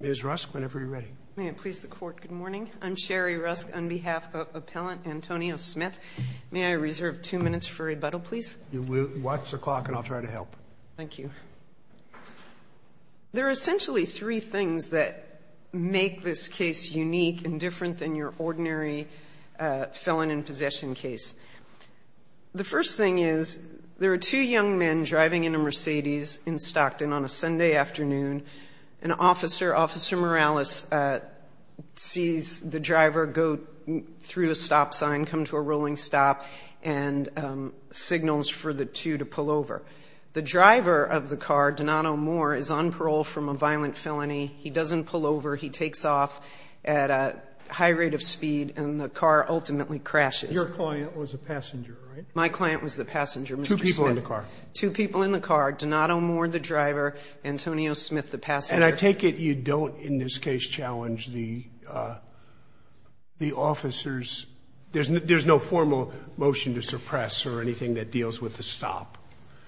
Ms. Rusk, whenever you're ready. May it please the Court, good morning. I'm Sherry Rusk on behalf of Appellant Antonio Smith. May I reserve two minutes for rebuttal, please? You will. Watch the clock and I'll try to help. Thank you. There are essentially three things that make this case unique and different than your ordinary felon in possession case. The first thing is there are two young men driving in a Mercedes in Stockton on a Sunday afternoon. An officer, Officer Morales, sees the driver go through a stop sign, come to a rolling stop, and signals for the two to pull over. The driver of the car, Donato Moore, is on parole from a violent felony. He doesn't pull over. He takes off at a high rate of speed and the car ultimately crashes. Your client was a young man, two people in the car, Donato Moore, the driver, Antonio Smith, the passenger. And I take it you don't, in this case, challenge the officer's – there's no formal motion to suppress or anything that deals with the stop.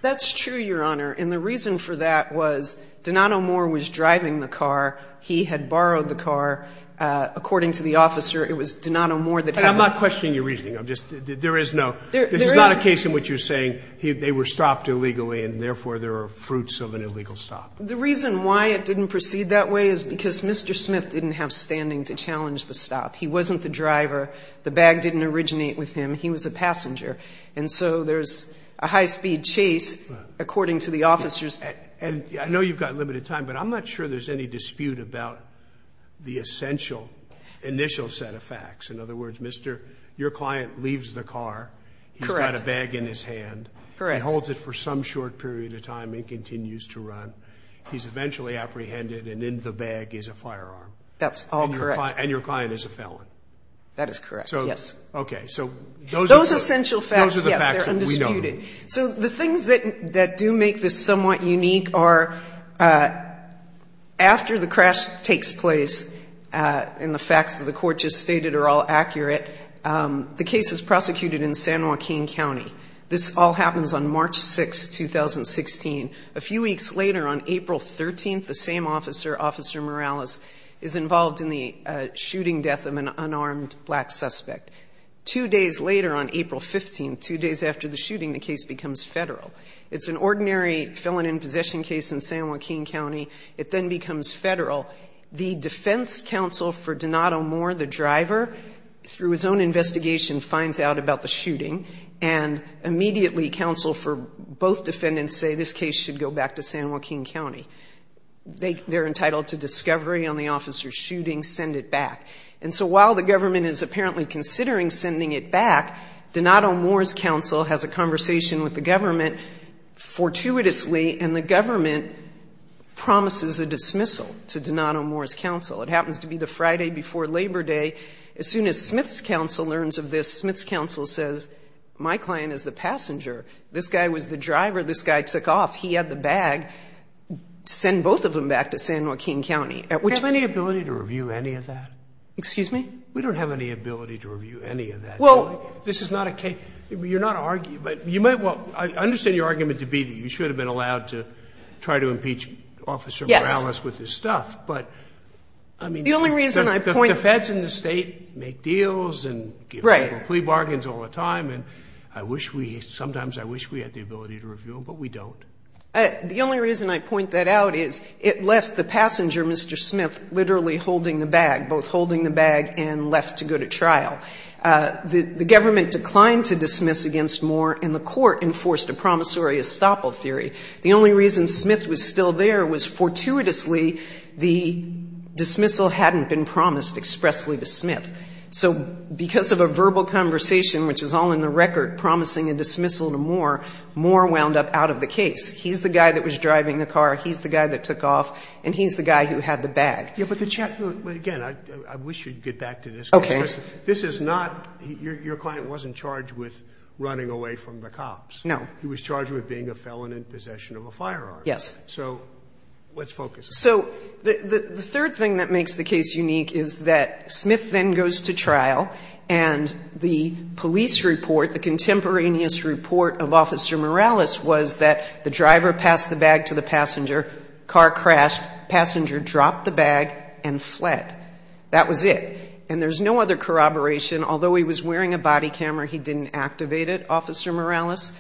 That's true, Your Honor. And the reason for that was Donato Moore was driving the car. He had borrowed the car. According to the officer, it was Donato Moore that had borrowed the car. I'm not questioning your reasoning. I'm just – there is no – this is not a case in which you're saying they were stopped illegally and, therefore, there are fruits of an illegal stop. The reason why it didn't proceed that way is because Mr. Smith didn't have standing to challenge the stop. He wasn't the driver. The bag didn't originate with him. He was a passenger. And so there's a high-speed chase, according to the officer's And I know you've got limited time, but I'm not sure there's any dispute about the essential initial set of facts. In other words, Mr. – your client leaves the car. Correct. He's got a bag in his hand. Correct. He holds it for some short period of time and continues to run. He's eventually apprehended, and in the bag is a firearm. That's all correct. And your client is a felon. That is correct, yes. So, okay. So those are the – Those essential facts, yes, they're undisputed. Those are the facts that we know. So the things that do make this somewhat unique are, after the crash takes place and the facts that the Court just stated are all accurate, the case is prosecuted in San Joaquin County. This all happens on March 6, 2016. A few weeks later, on April 13th, the same officer, Officer Morales, is involved in the shooting death of an unarmed black suspect. Two days later, on April 15th, two days after the shooting, the case becomes federal. It's an ordinary felon in possession case in San Joaquin County. It then becomes federal. The defense counsel for Donato Moore, the driver, through his own investigation finds out about the shooting, and immediately counsel for both defendants say this case should go back to San Joaquin County. They're entitled to discovery on the officer's shooting. Send it back. And so while the government is apparently considering sending it back, Donato Moore's counsel has a conversation with the government fortuitously, and the government promises a dismissal to Donato Moore's counsel. It happens to be the Friday before Labor Day. As soon as Smith's counsel learns of this, Smith's counsel says, my client is the passenger. This guy was the driver. This guy took off. He had the bag. Send both of them back to San Joaquin County. Sotomayor, which has any ability to review any of that? Excuse me? We don't have any ability to review any of that. Well, this is not a case. You're not arguing. You might well – I understand your argument to be that you should have been allowed to try to impeach Officer Morales with his stuff. But, I mean, the Feds in the States are not allowed to do that. They make deals and give little plea bargains all the time, and I wish we – sometimes I wish we had the ability to review them, but we don't. The only reason I point that out is it left the passenger, Mr. Smith, literally holding the bag, both holding the bag and left to go to trial. The government declined to dismiss against Moore, and the Court enforced a promissory estoppel theory. The only reason Smith was still there was fortuitously the dismissal hadn't been promised expressly to Smith. So because of a verbal conversation, which is all in the record, promising a dismissal to Moore, Moore wound up out of the case. He's the guy that was driving the car, he's the guy that took off, and he's the guy who had the bag. Yeah, but the – again, I wish you'd get back to this. Okay. Because this is not – your client wasn't charged with running away from the cops. No. He was charged with being a felon in possession of a firearm. Yes. So let's focus. So the third thing that makes the case unique is that Smith then goes to trial, and the police report, the contemporaneous report of Officer Morales was that the driver passed the bag to the passenger, car crashed, passenger dropped the bag and fled. That was it. And there's no other corroboration. Although he was wearing a body camera, he didn't activate it, Officer Morales.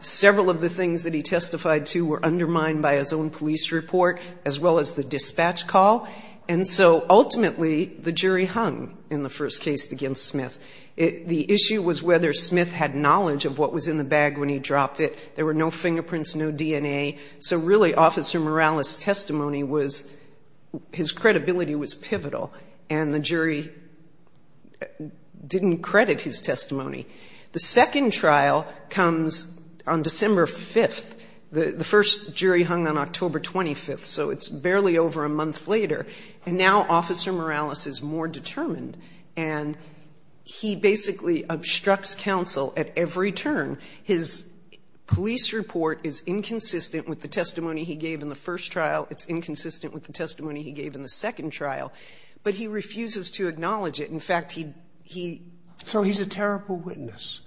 Several of the things that he testified to were undermined by his own police report, as well as the dispatch call. And so ultimately, the jury hung in the first case against Smith. The issue was whether Smith had knowledge of what was in the bag when he dropped it. There were no fingerprints, no DNA. So really, Officer Morales' testimony was – his credibility was pivotal. And the jury didn't credit his testimony. The second trial comes on December 5th. The first jury hung on October 25th. So it's barely over a month later. And now Officer Morales is more determined. And he basically obstructs counsel at every turn. His police report is inconsistent with the testimony he gave in the first trial. It's inconsistent with the testimony he gave in the second trial. In fact, he – he – So he's a terrible witness.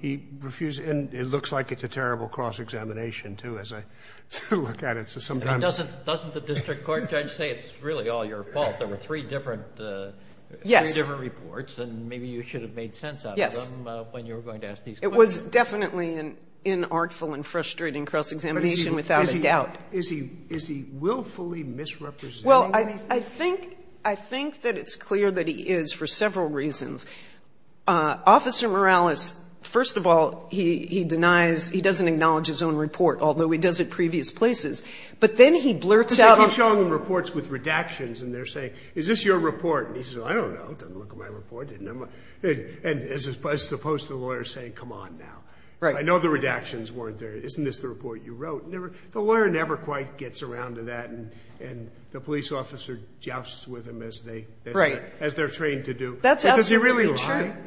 He refused – and it looks like it's a terrible cross-examination, too, as I look at it. So sometimes – But doesn't the district court judge say it's really all your fault? There were three different – three different reports. And maybe you should have made sense out of them when you were going to ask these questions. It was definitely an inartful and frustrating cross-examination without a doubt. Is he willfully misrepresenting anything? Well, I think that it's clear that he is for several reasons. Officer Morales, first of all, he denies – he doesn't acknowledge his own report, although he does at previous places. But then he blurts out – Because if you're showing them reports with redactions and they're saying, is this your report, and he says, I don't know, doesn't look like my report, didn't – and as opposed to the lawyer saying, come on now. Right. I know the redactions weren't there. Isn't this the report you wrote? The lawyer never quite gets around to that. And the police officer jousts with him as they – as they're trained to do. That's absolutely right. That's very true.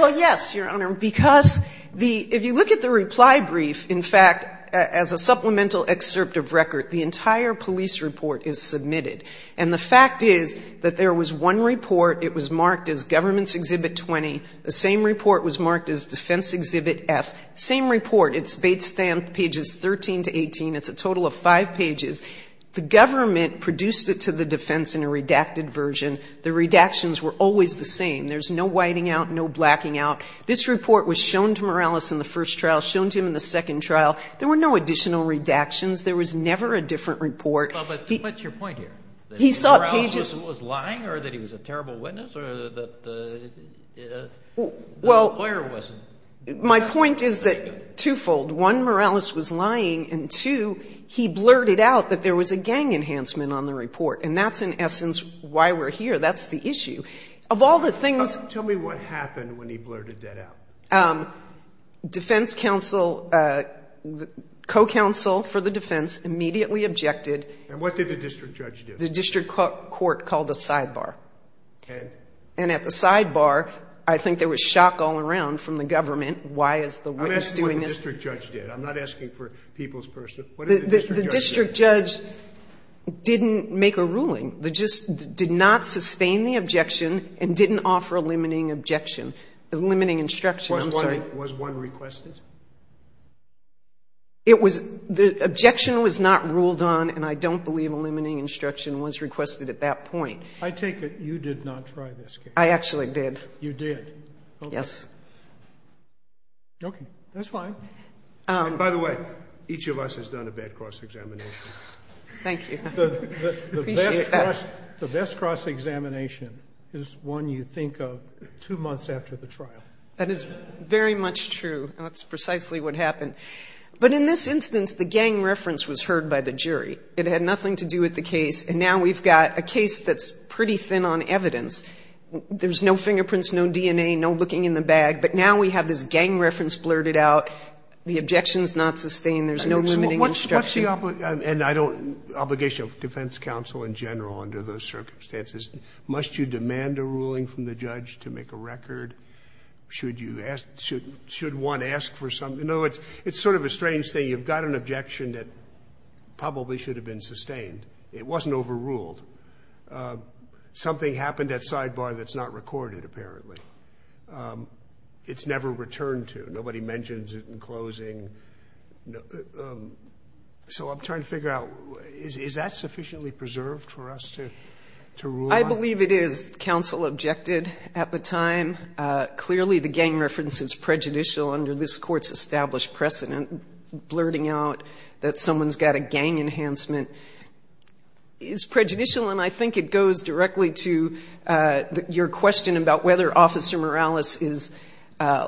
Well, yes, Your Honor, because the – if you look at the reply brief, in fact, as a supplemental excerpt of record, the entire police report is submitted. And the fact is that there was one report, it was marked as Government's Exhibit 20, the same report was marked as Defense Exhibit F, same report. It's based on pages 13 to 18. It's a total of five pages. The government produced it to the defense in a redacted version. The redactions were always the same. There's no whiting out, no blacking out. This report was shown to Morales in the first trial, shown to him in the second trial. There were no additional redactions. There was never a different report. Well, but what's your point here? He saw pages – That Morales was lying or that he was a terrible witness or that the lawyer wasn't? My point is that twofold. One, Morales was lying. And two, he blurted out that there was a gang enhancement on the report. And that's, in essence, why we're here. That's the issue. Of all the things – Tell me what happened when he blurted that out. Defense counsel, co-counsel for the defense immediately objected. And what did the district judge do? The district court called a sidebar. And? And at the sidebar, I think there was shock all around from the government. Why is the witness doing this? I'm asking what the district judge did. I'm not asking for people's personal – what did the district judge do? The district judge didn't make a ruling. They just did not sustain the objection and didn't offer a limiting objection – limiting instruction. I'm sorry. Was one requested? It was – the objection was not ruled on. And I don't believe a limiting instruction was requested at that point. I take it you did not try this case? I actually did. You did? Yes. Okay. That's fine. By the way, each of us has done a bad cross-examination. Thank you. The best cross-examination is one you think of two months after the trial. That is very much true. That's precisely what happened. But in this instance, the gang reference was heard by the jury. It had nothing to do with the case. And now we've got a case that's pretty thin on evidence. There's no fingerprints, no DNA, no looking in the bag. But now we have this gang reference blurted out. The objection's not sustained. There's no limiting instruction. What's the obligation of defense counsel in general under those circumstances? Must you demand a ruling from the judge to make a record? Should you ask – should one ask for some – in other words, it's sort of a strange thing. You've got an objection that probably should have been sustained. It wasn't overruled. Something happened at sidebar that's not recorded, apparently. It's never returned to. Nobody mentions it in closing. So I'm trying to figure out, is that sufficiently preserved for us to rule on? I believe it is. Counsel objected at the time. Clearly, the gang reference is prejudicial under this Court's established precedent, blurting out that someone's got a gang enhancement. It's prejudicial, and I think it goes directly to your question about whether Officer Morales is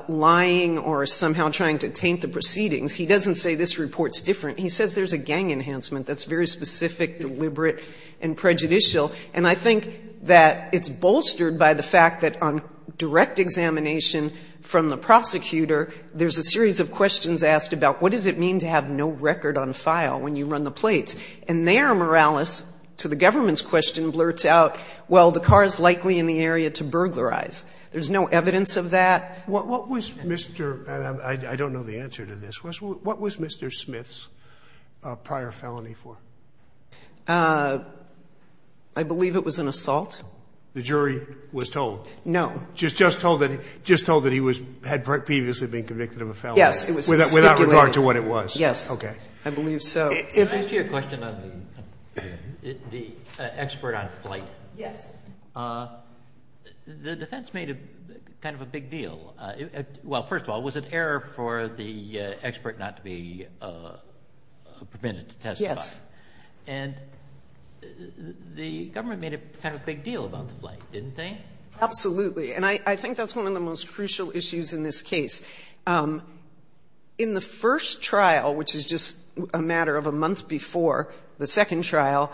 lying or somehow trying to taint the proceedings. He doesn't say this report's different. He says there's a gang enhancement that's very specific, deliberate, and prejudicial. And I think that it's bolstered by the fact that on direct examination from the prosecutor, there's a series of questions asked about what does it mean to have no record on file when you run the plates? And there, Morales, to the government's question, blurts out, well, the car's likely in the area to burglarize. There's no evidence of that. What was Mr. — and I don't know the answer to this. What was Mr. Smith's prior felony for? I believe it was an assault. The jury was told? No. Just told that he was — had previously been convicted of a felony? Yes. It was stipulated. Without regard to what it was? Yes. Okay. I believe so. Can I ask you a question on the expert on flight? Yes. The defense made kind of a big deal. Well, first of all, was it error for the expert not to be permitted to testify? Yes. And the government made kind of a big deal about the flight, didn't they? Absolutely. And I think that's one of the most crucial issues in this case. In the first trial, which is just a matter of a month before the second trial,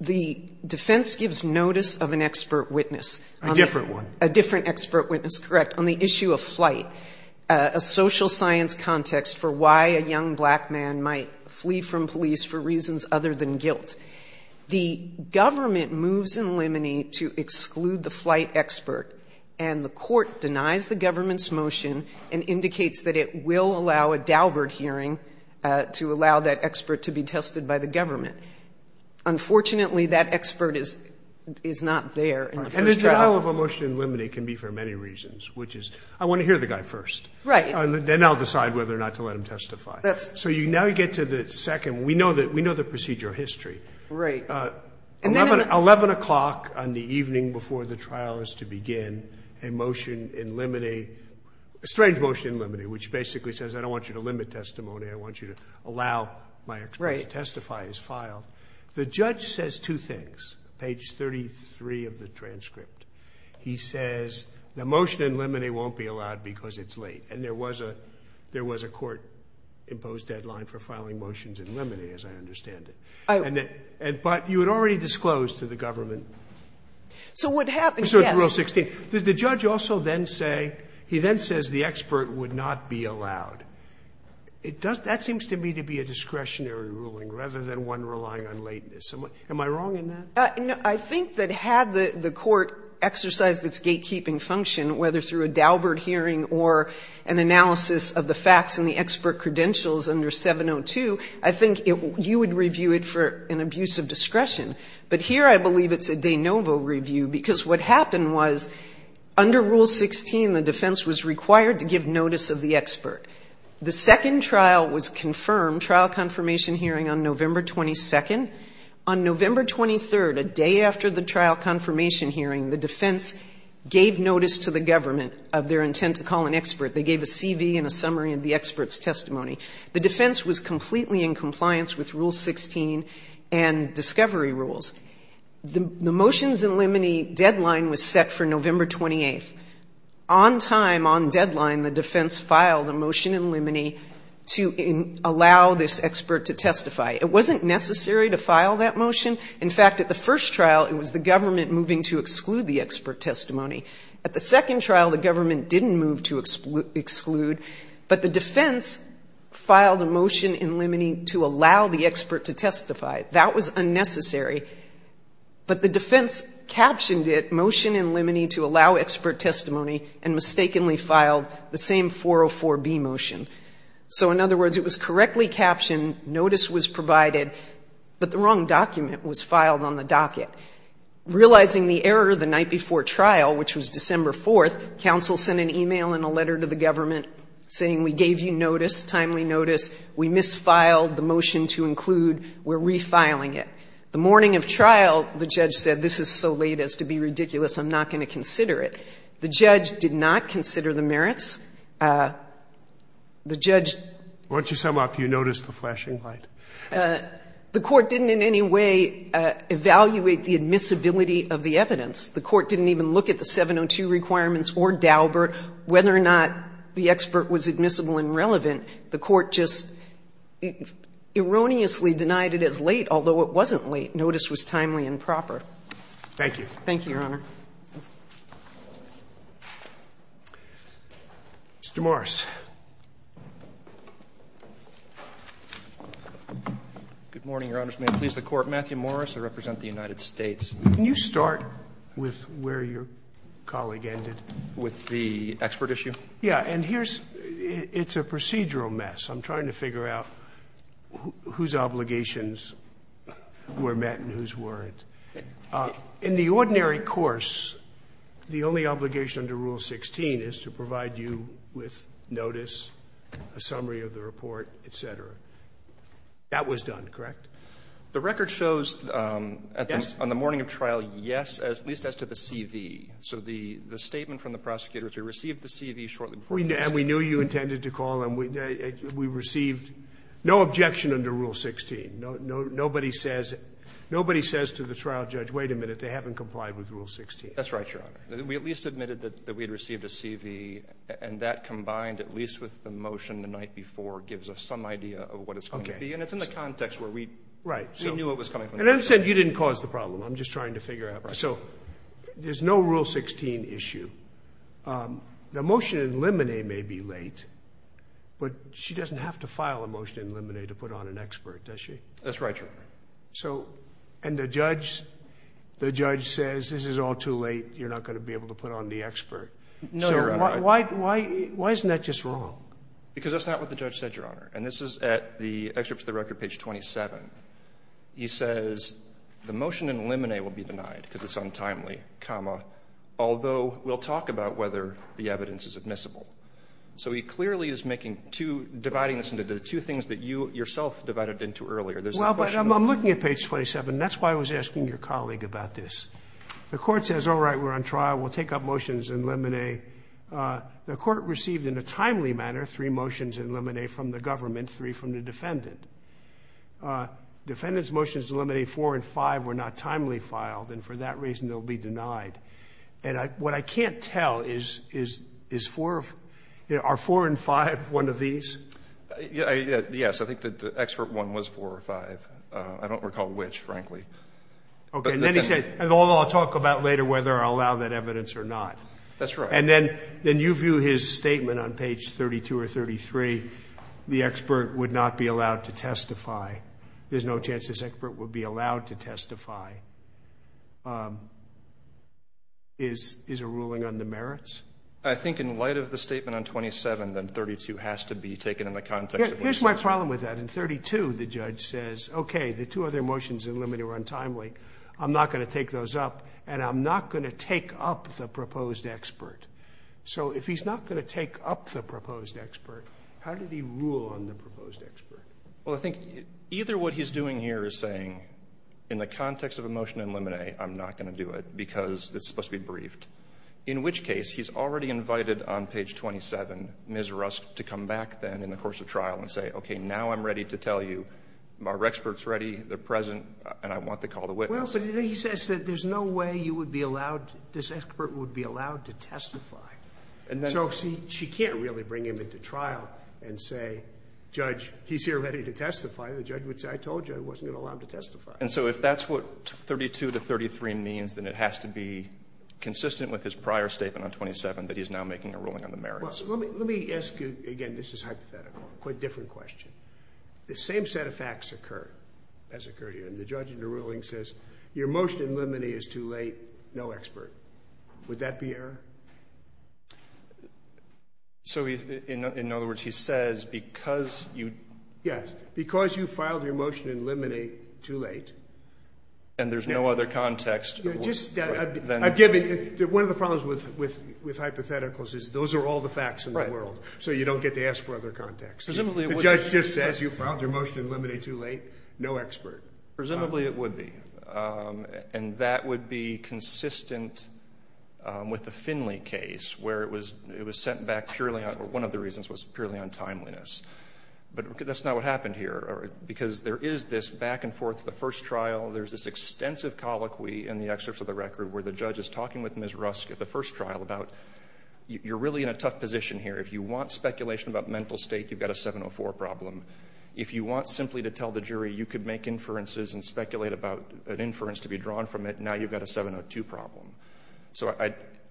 the defense gives notice of an expert witness. A different one. A different expert witness, correct, on the issue of flight, a social science context for why a young black man might flee from police for reasons other than guilt. The government moves in Limeny to exclude the flight expert, and the court denies the government's motion and indicates that it will allow a Daubert hearing to allow that expert to be tested by the government. Unfortunately, that expert is not there in the first trial. And the denial of a motion in Limeny can be for many reasons, which is I want to hear the guy first. Right. And then I'll decide whether or not to let him testify. So now you get to the second. We know the procedure history. Right. 11 o'clock on the evening before the trial is to begin, a motion in Limeny, a strange motion in Limeny, which basically says I don't want you to limit testimony. I want you to allow my expert to testify. He's filed. The judge says two things, page 33 of the transcript. He says the motion in Limeny won't be allowed because it's late. And there was a court-imposed deadline for filing motions in Limeny, as I understand it. But you had already disclosed to the government. So what happens, yes. So in Rule 16, did the judge also then say, he then says the expert would not be allowed. It does that seems to me to be a discretionary ruling rather than one relying on lateness. Am I wrong in that? I think that had the court exercised its gatekeeping function, whether through a Daubert hearing or an analysis of the facts and the expert credentials under 702, I think you would review it for an abuse of discretion. But here I believe it's a de novo review, because what happened was under Rule 16, the defense was required to give notice of the expert. The second trial was confirmed, trial confirmation hearing on November 22nd. On November 23rd, a day after the trial confirmation hearing, the defense gave notice to the government of their intent to call an expert. They gave a CV and a summary of the expert's testimony. The defense was completely in compliance with Rule 16 and discovery rules. The motions in Limeny deadline was set for November 28th. On time, on deadline, the defense filed a motion in Limeny to allow this expert to testify. It wasn't necessary to file that motion. In fact, at the first trial, it was the government moving to exclude the expert testimony. At the second trial, the government didn't move to exclude, but the defense filed a motion in Limeny to allow the expert to testify. That was unnecessary. But the defense captioned it, motion in Limeny to allow expert testimony, and mistakenly filed the same 404B motion. So in other words, it was correctly captioned, notice was provided, but the wrong document was filed on the docket. Realizing the error the night before trial, which was December 4th, counsel sent an email and a letter to the government saying, we gave you notice, timely notice, we misfiled the motion to include, we're refiling it. The morning of trial, the judge said, this is so late as to be ridiculous, I'm not going to consider it. The judge did not consider the merits. The judge. Scalia. Once you sum up, you notice the flashing light. The court didn't in any way evaluate the admissibility of the evidence. The court didn't even look at the 702 requirements or Dauber, whether or not the expert was admissible and relevant. The court just erroneously denied it as late, although it wasn't late. Notice was timely and proper. Thank you, Your Honor. Mr. Morris. Good morning, Your Honors. May it please the Court. Matthew Morris, I represent the United States. Can you start with where your colleague ended? With the expert issue? Yeah, and here's – it's a procedural mess. I'm trying to figure out whose obligations were met and whose weren't. In the ordinary course, the only obligation under Rule 16 is to provide you with notice, a summary of the report, et cetera. That was done, correct? The record shows on the morning of trial, yes, at least as to the CV. So the statement from the prosecutor is we received the CV shortly before the case. And we knew you intended to call, and we received no objection under Rule 16. Nobody says to the trial judge, wait a minute, they haven't complied with Rule 16. That's right, Your Honor. We at least admitted that we had received a CV, and that combined at least with the motion the night before gives us some idea of what it's going to be. And it's in the context where we knew it was coming from the judge. And you didn't cause the problem. I'm just trying to figure out. So there's no Rule 16 issue. The motion in limine may be late, but she doesn't have to file a motion in limine to put on an expert, does she? That's right, Your Honor. And the judge says, this is all too late. You're not going to be able to put on the expert. No, Your Honor. Why isn't that just wrong? Because that's not what the judge said, Your Honor. And this is at the excerpt from the record, page 27. He says, the motion in limine will be denied because it's untimely, comma, although we'll talk about whether the evidence is admissible. So he clearly is making two, dividing this into the two things that you, yourself, divided into earlier. There's a question of- Well, but I'm looking at page 27. That's why I was asking your colleague about this. The court says, all right, we're on trial. We'll take up motions in limine. The court received in a timely manner three motions in limine from the government, three from the defendant. Defendant's motions in limine four and five were not timely filed. And for that reason, they'll be denied. And what I can't tell is, are four and five one of these? Yes, I think that the excerpt one was four or five. I don't recall which, frankly. OK, and then he says, although I'll talk about later whether I'll allow that evidence or not. That's right. And then you view his statement on page 32 or 33, the expert would not be allowed to testify. There's no chance this expert would be allowed to testify. Is a ruling on the merits? I think in light of the statement on 27, then 32 has to be taken in the context of what you're saying. Here's my problem with that. In 32, the judge says, OK, the two other motions in limine were untimely. I'm not going to take those up. And I'm not going to take up the proposed expert. So if he's not going to take up the proposed expert, how did he rule on the proposed expert? Well, I think either what he's doing here is saying, in the context of a motion in limine, I'm not going to do it because it's supposed to be briefed. In which case, he's already invited on page 27, Ms. Rusk, to come back then in the course of trial and say, OK, now I'm ready to tell you. Our expert's ready. They're present. And I want to call the witness. Well, but he says that there's no way you would be allowed, this expert would be allowed to testify. So she can't really bring him into trial and say, judge, he's here ready to testify. The judge would say, I told you I wasn't going to allow him to testify. And so if that's what 32 to 33 means, then it has to be consistent with his prior statement on 27 that he's now making a ruling on the merits. Well, let me ask you, again, this is hypothetical, a quite different question. The same set of facts occurred as occurred here. And the judge in the ruling says, your motion in limine is too late, no expert. Would that be error? So in other words, he says, because you? Yes. Because you filed your motion in limine too late. And there's no other context? One of the problems with hypotheticals is those are all the facts in the world. So you don't get to ask for other context. The judge just says, you filed your motion in limine too late, no expert. Presumably it would be. And that would be consistent with the Finley case, where it was sent back purely on, one of the reasons was purely on timeliness. But that's not what happened here. Because there is this back and forth, the first trial, there's this extensive colloquy in the excerpts of the record where the judge is talking with Ms. Rusk at the first trial about, you're really in a tough position here. If you want speculation about mental state, you've got a 704 problem. If you want simply to tell the jury you could make inferences and speculate about an inference to be drawn from it, now you've got a 702 problem. So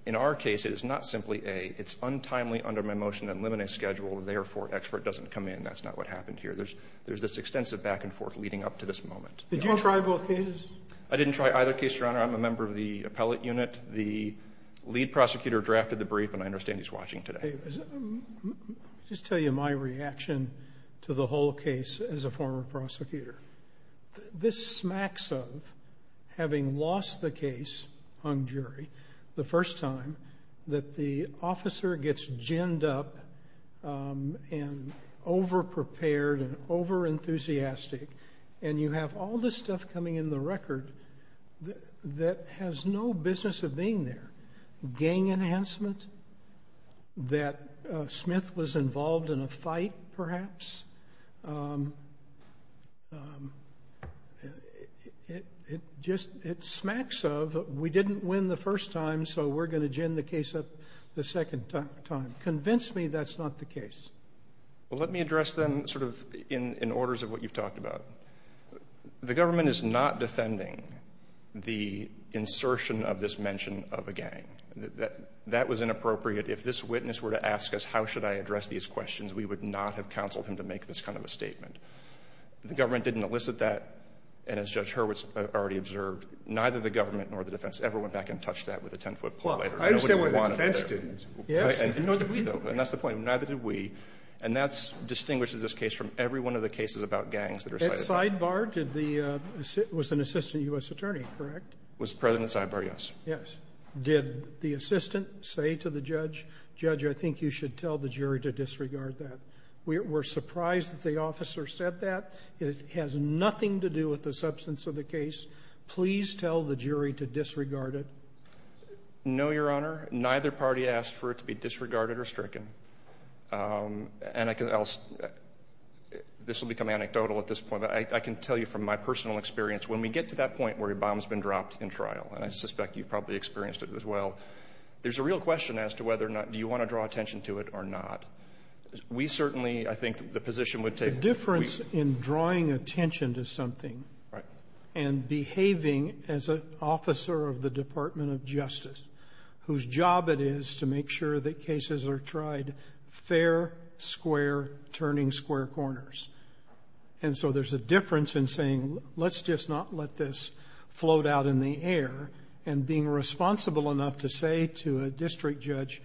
in our case, it is not simply a, it's untimely under my motion in limine schedule, therefore expert doesn't come in. That's not what happened here. There's this extensive back and forth leading up to this moment. Did you try both cases? I didn't try either case, Your Honor. I'm a member of the appellate unit. The lead prosecutor drafted the brief, and I understand he's watching today. I'll just tell you my reaction to the whole case as a former prosecutor. This smacks of having lost the case on jury the first time that the officer gets ginned up and over-prepared and over-enthusiastic, and you have all this stuff coming in the record that has no business of being there. Gang enhancement, that Smith was involved in a fight, perhaps. It smacks of, we didn't win the first time, so we're going to gin the case up the second time. Convince me that's not the case. Well, let me address them sort of in orders of what you've talked about. The government is not defending the insertion of this mention of a gang. That was inappropriate. If this witness were to ask us, how should I address these questions? We would not have counseled him to make this kind of a statement. The government didn't elicit that, and as Judge Hurwitz already observed, neither the government nor the defense ever went back and touched that with a ten-foot pole. I understand where the defense didn't. Yes. And nor did we, though. And that's the point. Neither did we. And that distinguishes this case from every one of the cases about gangs that are cited. Ed Sidebar was an assistant U.S. attorney, correct? Was President Sidebar, yes. Yes. Did the assistant say to the judge, Judge, I think you should tell the jury to disregard that? We're surprised that the officer said that. It has nothing to do with the substance of the case. Please tell the jury to disregard it. No, Your Honor. Neither party asked for it to be disregarded or stricken. And this will become anecdotal at this point, but I can tell you from my personal experience, when we get to that point where a bomb's been dropped in trial, and I suspect you've probably experienced it as well, there's a real question as to whether or not do you want to draw attention to it or not. We certainly, I think, the position would take... The difference in drawing attention to something and behaving as an officer of the Department of Justice, whose job it is to make sure that cases are tried fair, square, turning square corners. And so there's a difference in saying, let's just not let this float out in the air and being responsible enough to say to a district judge,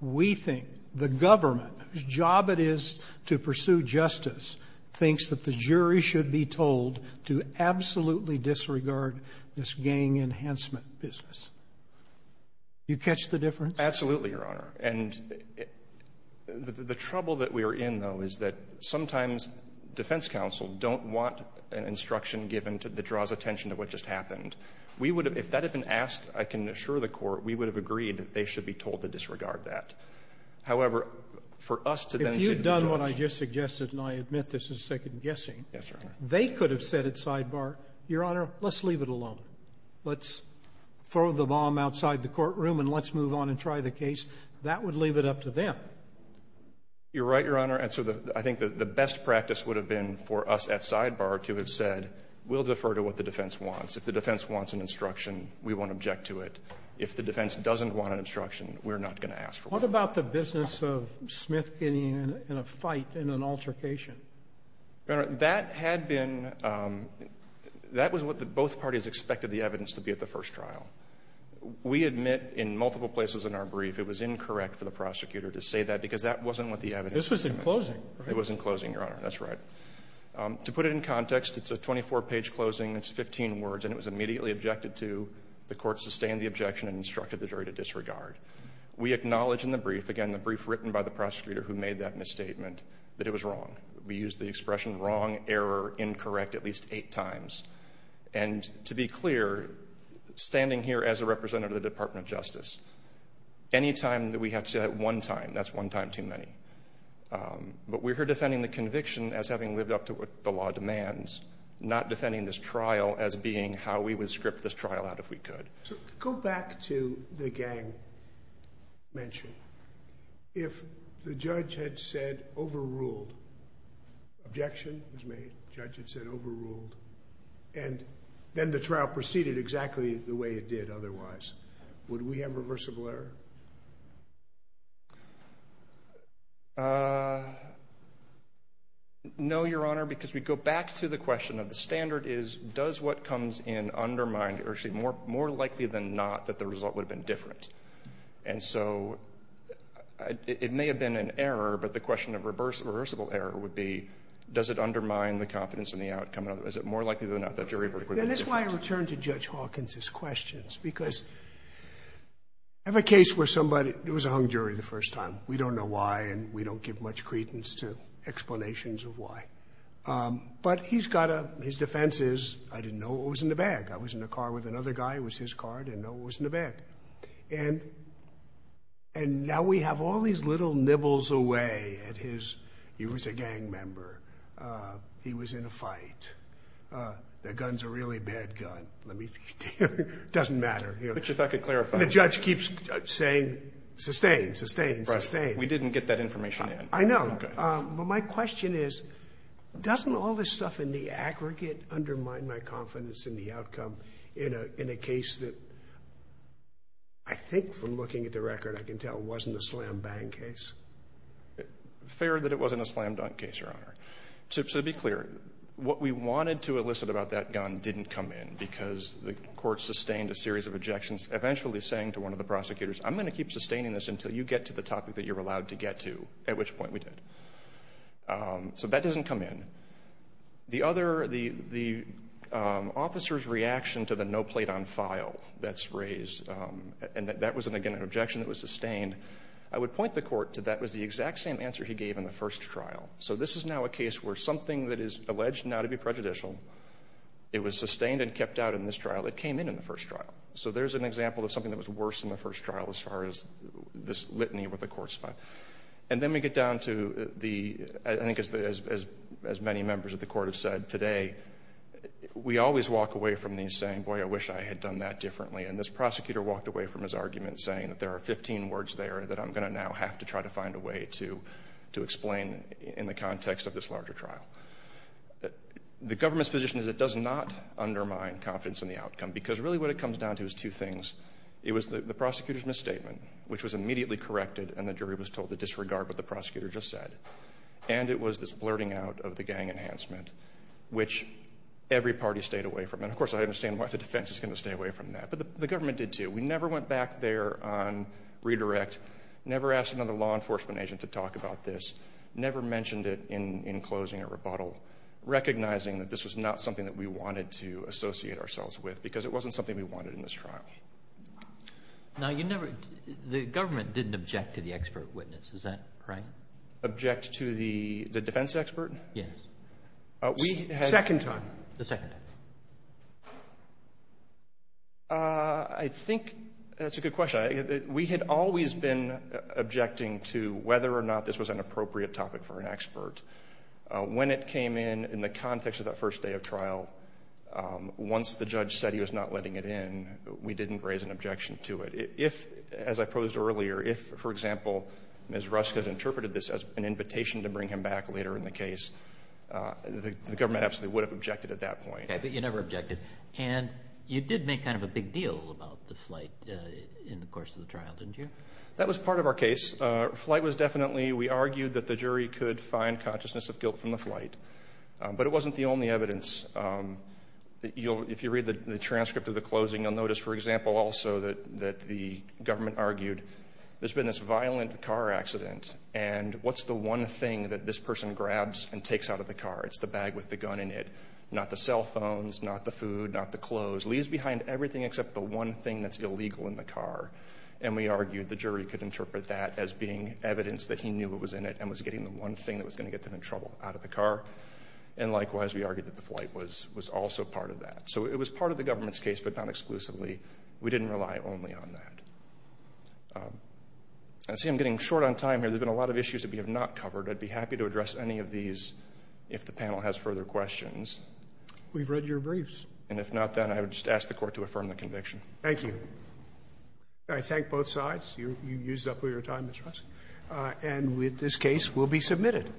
we think the government, whose job it is to pursue justice, thinks that the jury should be told to disregard that. If you've done what I just suggested, and I admit this is second-guessing, they could have said at sidebar, Your Honor, let's leave it alone. jury should be told to disregard that. Throw the bomb outside the courtroom, and let's move on and try the case. That would leave it up to them. You're right, Your Honor, and so I think the best practice would have been for us at sidebar to have said, we'll defer to what the defense wants. If the defense wants an instruction, we won't object to it. If the defense doesn't want an instruction, we're not going to ask for one. What about the business of Smith getting in a fight in an altercation? Your Honor, that had been... That was what both parties expected the evidence to be at the first trial. We admit in multiple places in our brief, it was incorrect for the prosecutor to say that, because that wasn't what the evidence... This was in closing, right? It was in closing, Your Honor. That's right. To put it in context, it's a 24-page closing. It's 15 words, and it was immediately objected to. The court sustained the objection and instructed the jury to disregard. We acknowledge in the brief, again, the brief written by the prosecutor who made that misstatement, that it was wrong. We used the expression wrong, error, incorrect at least eight times. To be clear, standing here as a representative of the Department of Justice, any time that we have to say that one time, that's one time too many. We're here defending the conviction as having lived up to what the law demands, not defending this trial as being how we would script this trial out if we could. Go back to the gang mention. If the judge had said overruled, objection was made, the judge had said overruled, and then the trial proceeded exactly the way it did otherwise, would we have reversible error? No, Your Honor, because we go back to the question of the standard is, does what comes in undermine, or actually more likely than not, that the result would have been different? And so, it may have been an error, but the question of reversible error would be, does it undermine the confidence in the outcome, or is it more likely than not that jury would have made a difference? And that's why I return to Judge Hawkins' questions, because I have a case where somebody, it was a hung jury the first time. We don't know why, and we don't give much credence to explanations of why. But he's got a, his defense is, I didn't know what was in the bag. I was in a car with another guy, it was his car, I didn't know what was in the bag. And now we have all these little nibbles away at his, he was a gang member, he was in a fight, the gun's a really bad gun, let me, it doesn't matter. But if I could clarify. The judge keeps saying, sustain, sustain, sustain. We didn't get that information in. I know, but my question is, doesn't all this stuff in the aggregate undermine my confidence in the outcome in a, in a case that, I think from looking at the record, I can tell wasn't a slam bang case? Fair that it wasn't a slam dunk case, your honor. To, to be clear, what we wanted to elicit about that gun didn't come in, because the court sustained a series of objections, eventually saying to one of the prosecutors, I'm going to keep sustaining this until you get to the topic that you're allowed to get to, at which point we did. So that doesn't come in. The other, the, the officer's reaction to the no plate on file that's raised. And that, that was an, again, an objection that was sustained. I would point the court to that was the exact same answer he gave in the first trial. So this is now a case where something that is alleged now to be prejudicial, it was sustained and kept out in this trial, it came in in the first trial. So there's an example of something that was worse in the first trial as far as this litany with the court's file. And then we get down to the, I think as, as, as many members of the court have said today, we always walk away from these saying, boy, I wish I had done that differently. And this prosecutor walked away from his argument saying that there are 15 words there that I'm going to now have to try to find a way to, to explain in the context of this larger trial. The government's position is it does not undermine confidence in the outcome. Because really what it comes down to is two things. It was the, the prosecutor's misstatement, which was immediately corrected, and the jury was told to disregard what the prosecutor just said. And it was this blurting out of the gang enhancement, which every party stayed away from. And of course, I understand why the defense is going to stay away from that. But the, the government did too. We never went back there on redirect. Never asked another law enforcement agent to talk about this. Never mentioned it in, in closing a rebuttal. Recognizing that this was not something that we wanted to associate ourselves with, because it wasn't something we wanted in this trial. Now, you never, the government didn't object to the expert witness, is that right? Object to the, the defense expert? Yes. We had. Second time. The second time. I think, that's a good question. We had always been objecting to whether or not this was an appropriate topic for an expert. When it came in, in the context of that first day of trial, once the judge said he was not letting it in, we didn't raise an objection to it. If, as I posed earlier, if, for example, Ms. Rusk had interpreted this as an invitation to bring him back later in the case, the, the government absolutely would have objected at that point. Okay, but you never objected. And you did make kind of a big deal about the flight in the course of the trial, didn't you? That was part of our case. Flight was definitely, we argued that the jury could find consciousness of guilt from the flight. But it wasn't the only evidence. You'll, if you read the, the transcript of the closing, you'll notice, for example, also that, that the government argued. There's been this violent car accident. And what's the one thing that this person grabs and takes out of the car? It's the bag with the gun in it. Not the cell phones, not the food, not the clothes. Leaves behind everything except the one thing that's illegal in the car. And we argued the jury could interpret that as being evidence that he knew it was in it and was getting the one thing that was going to get them in trouble out of the car. And likewise, we argued that the flight was, was also part of that. So it was part of the government's case, but not exclusively. We didn't rely only on that. I see I'm getting short on time here. There's been a lot of issues that we have not covered. I'd be happy to address any of these if the panel has further questions. We've read your briefs. And if not, then I would just ask the court to affirm the conviction. Thank you. I thank both sides. You, you used up all your time, Ms. Rusk. And with this case will be submitted.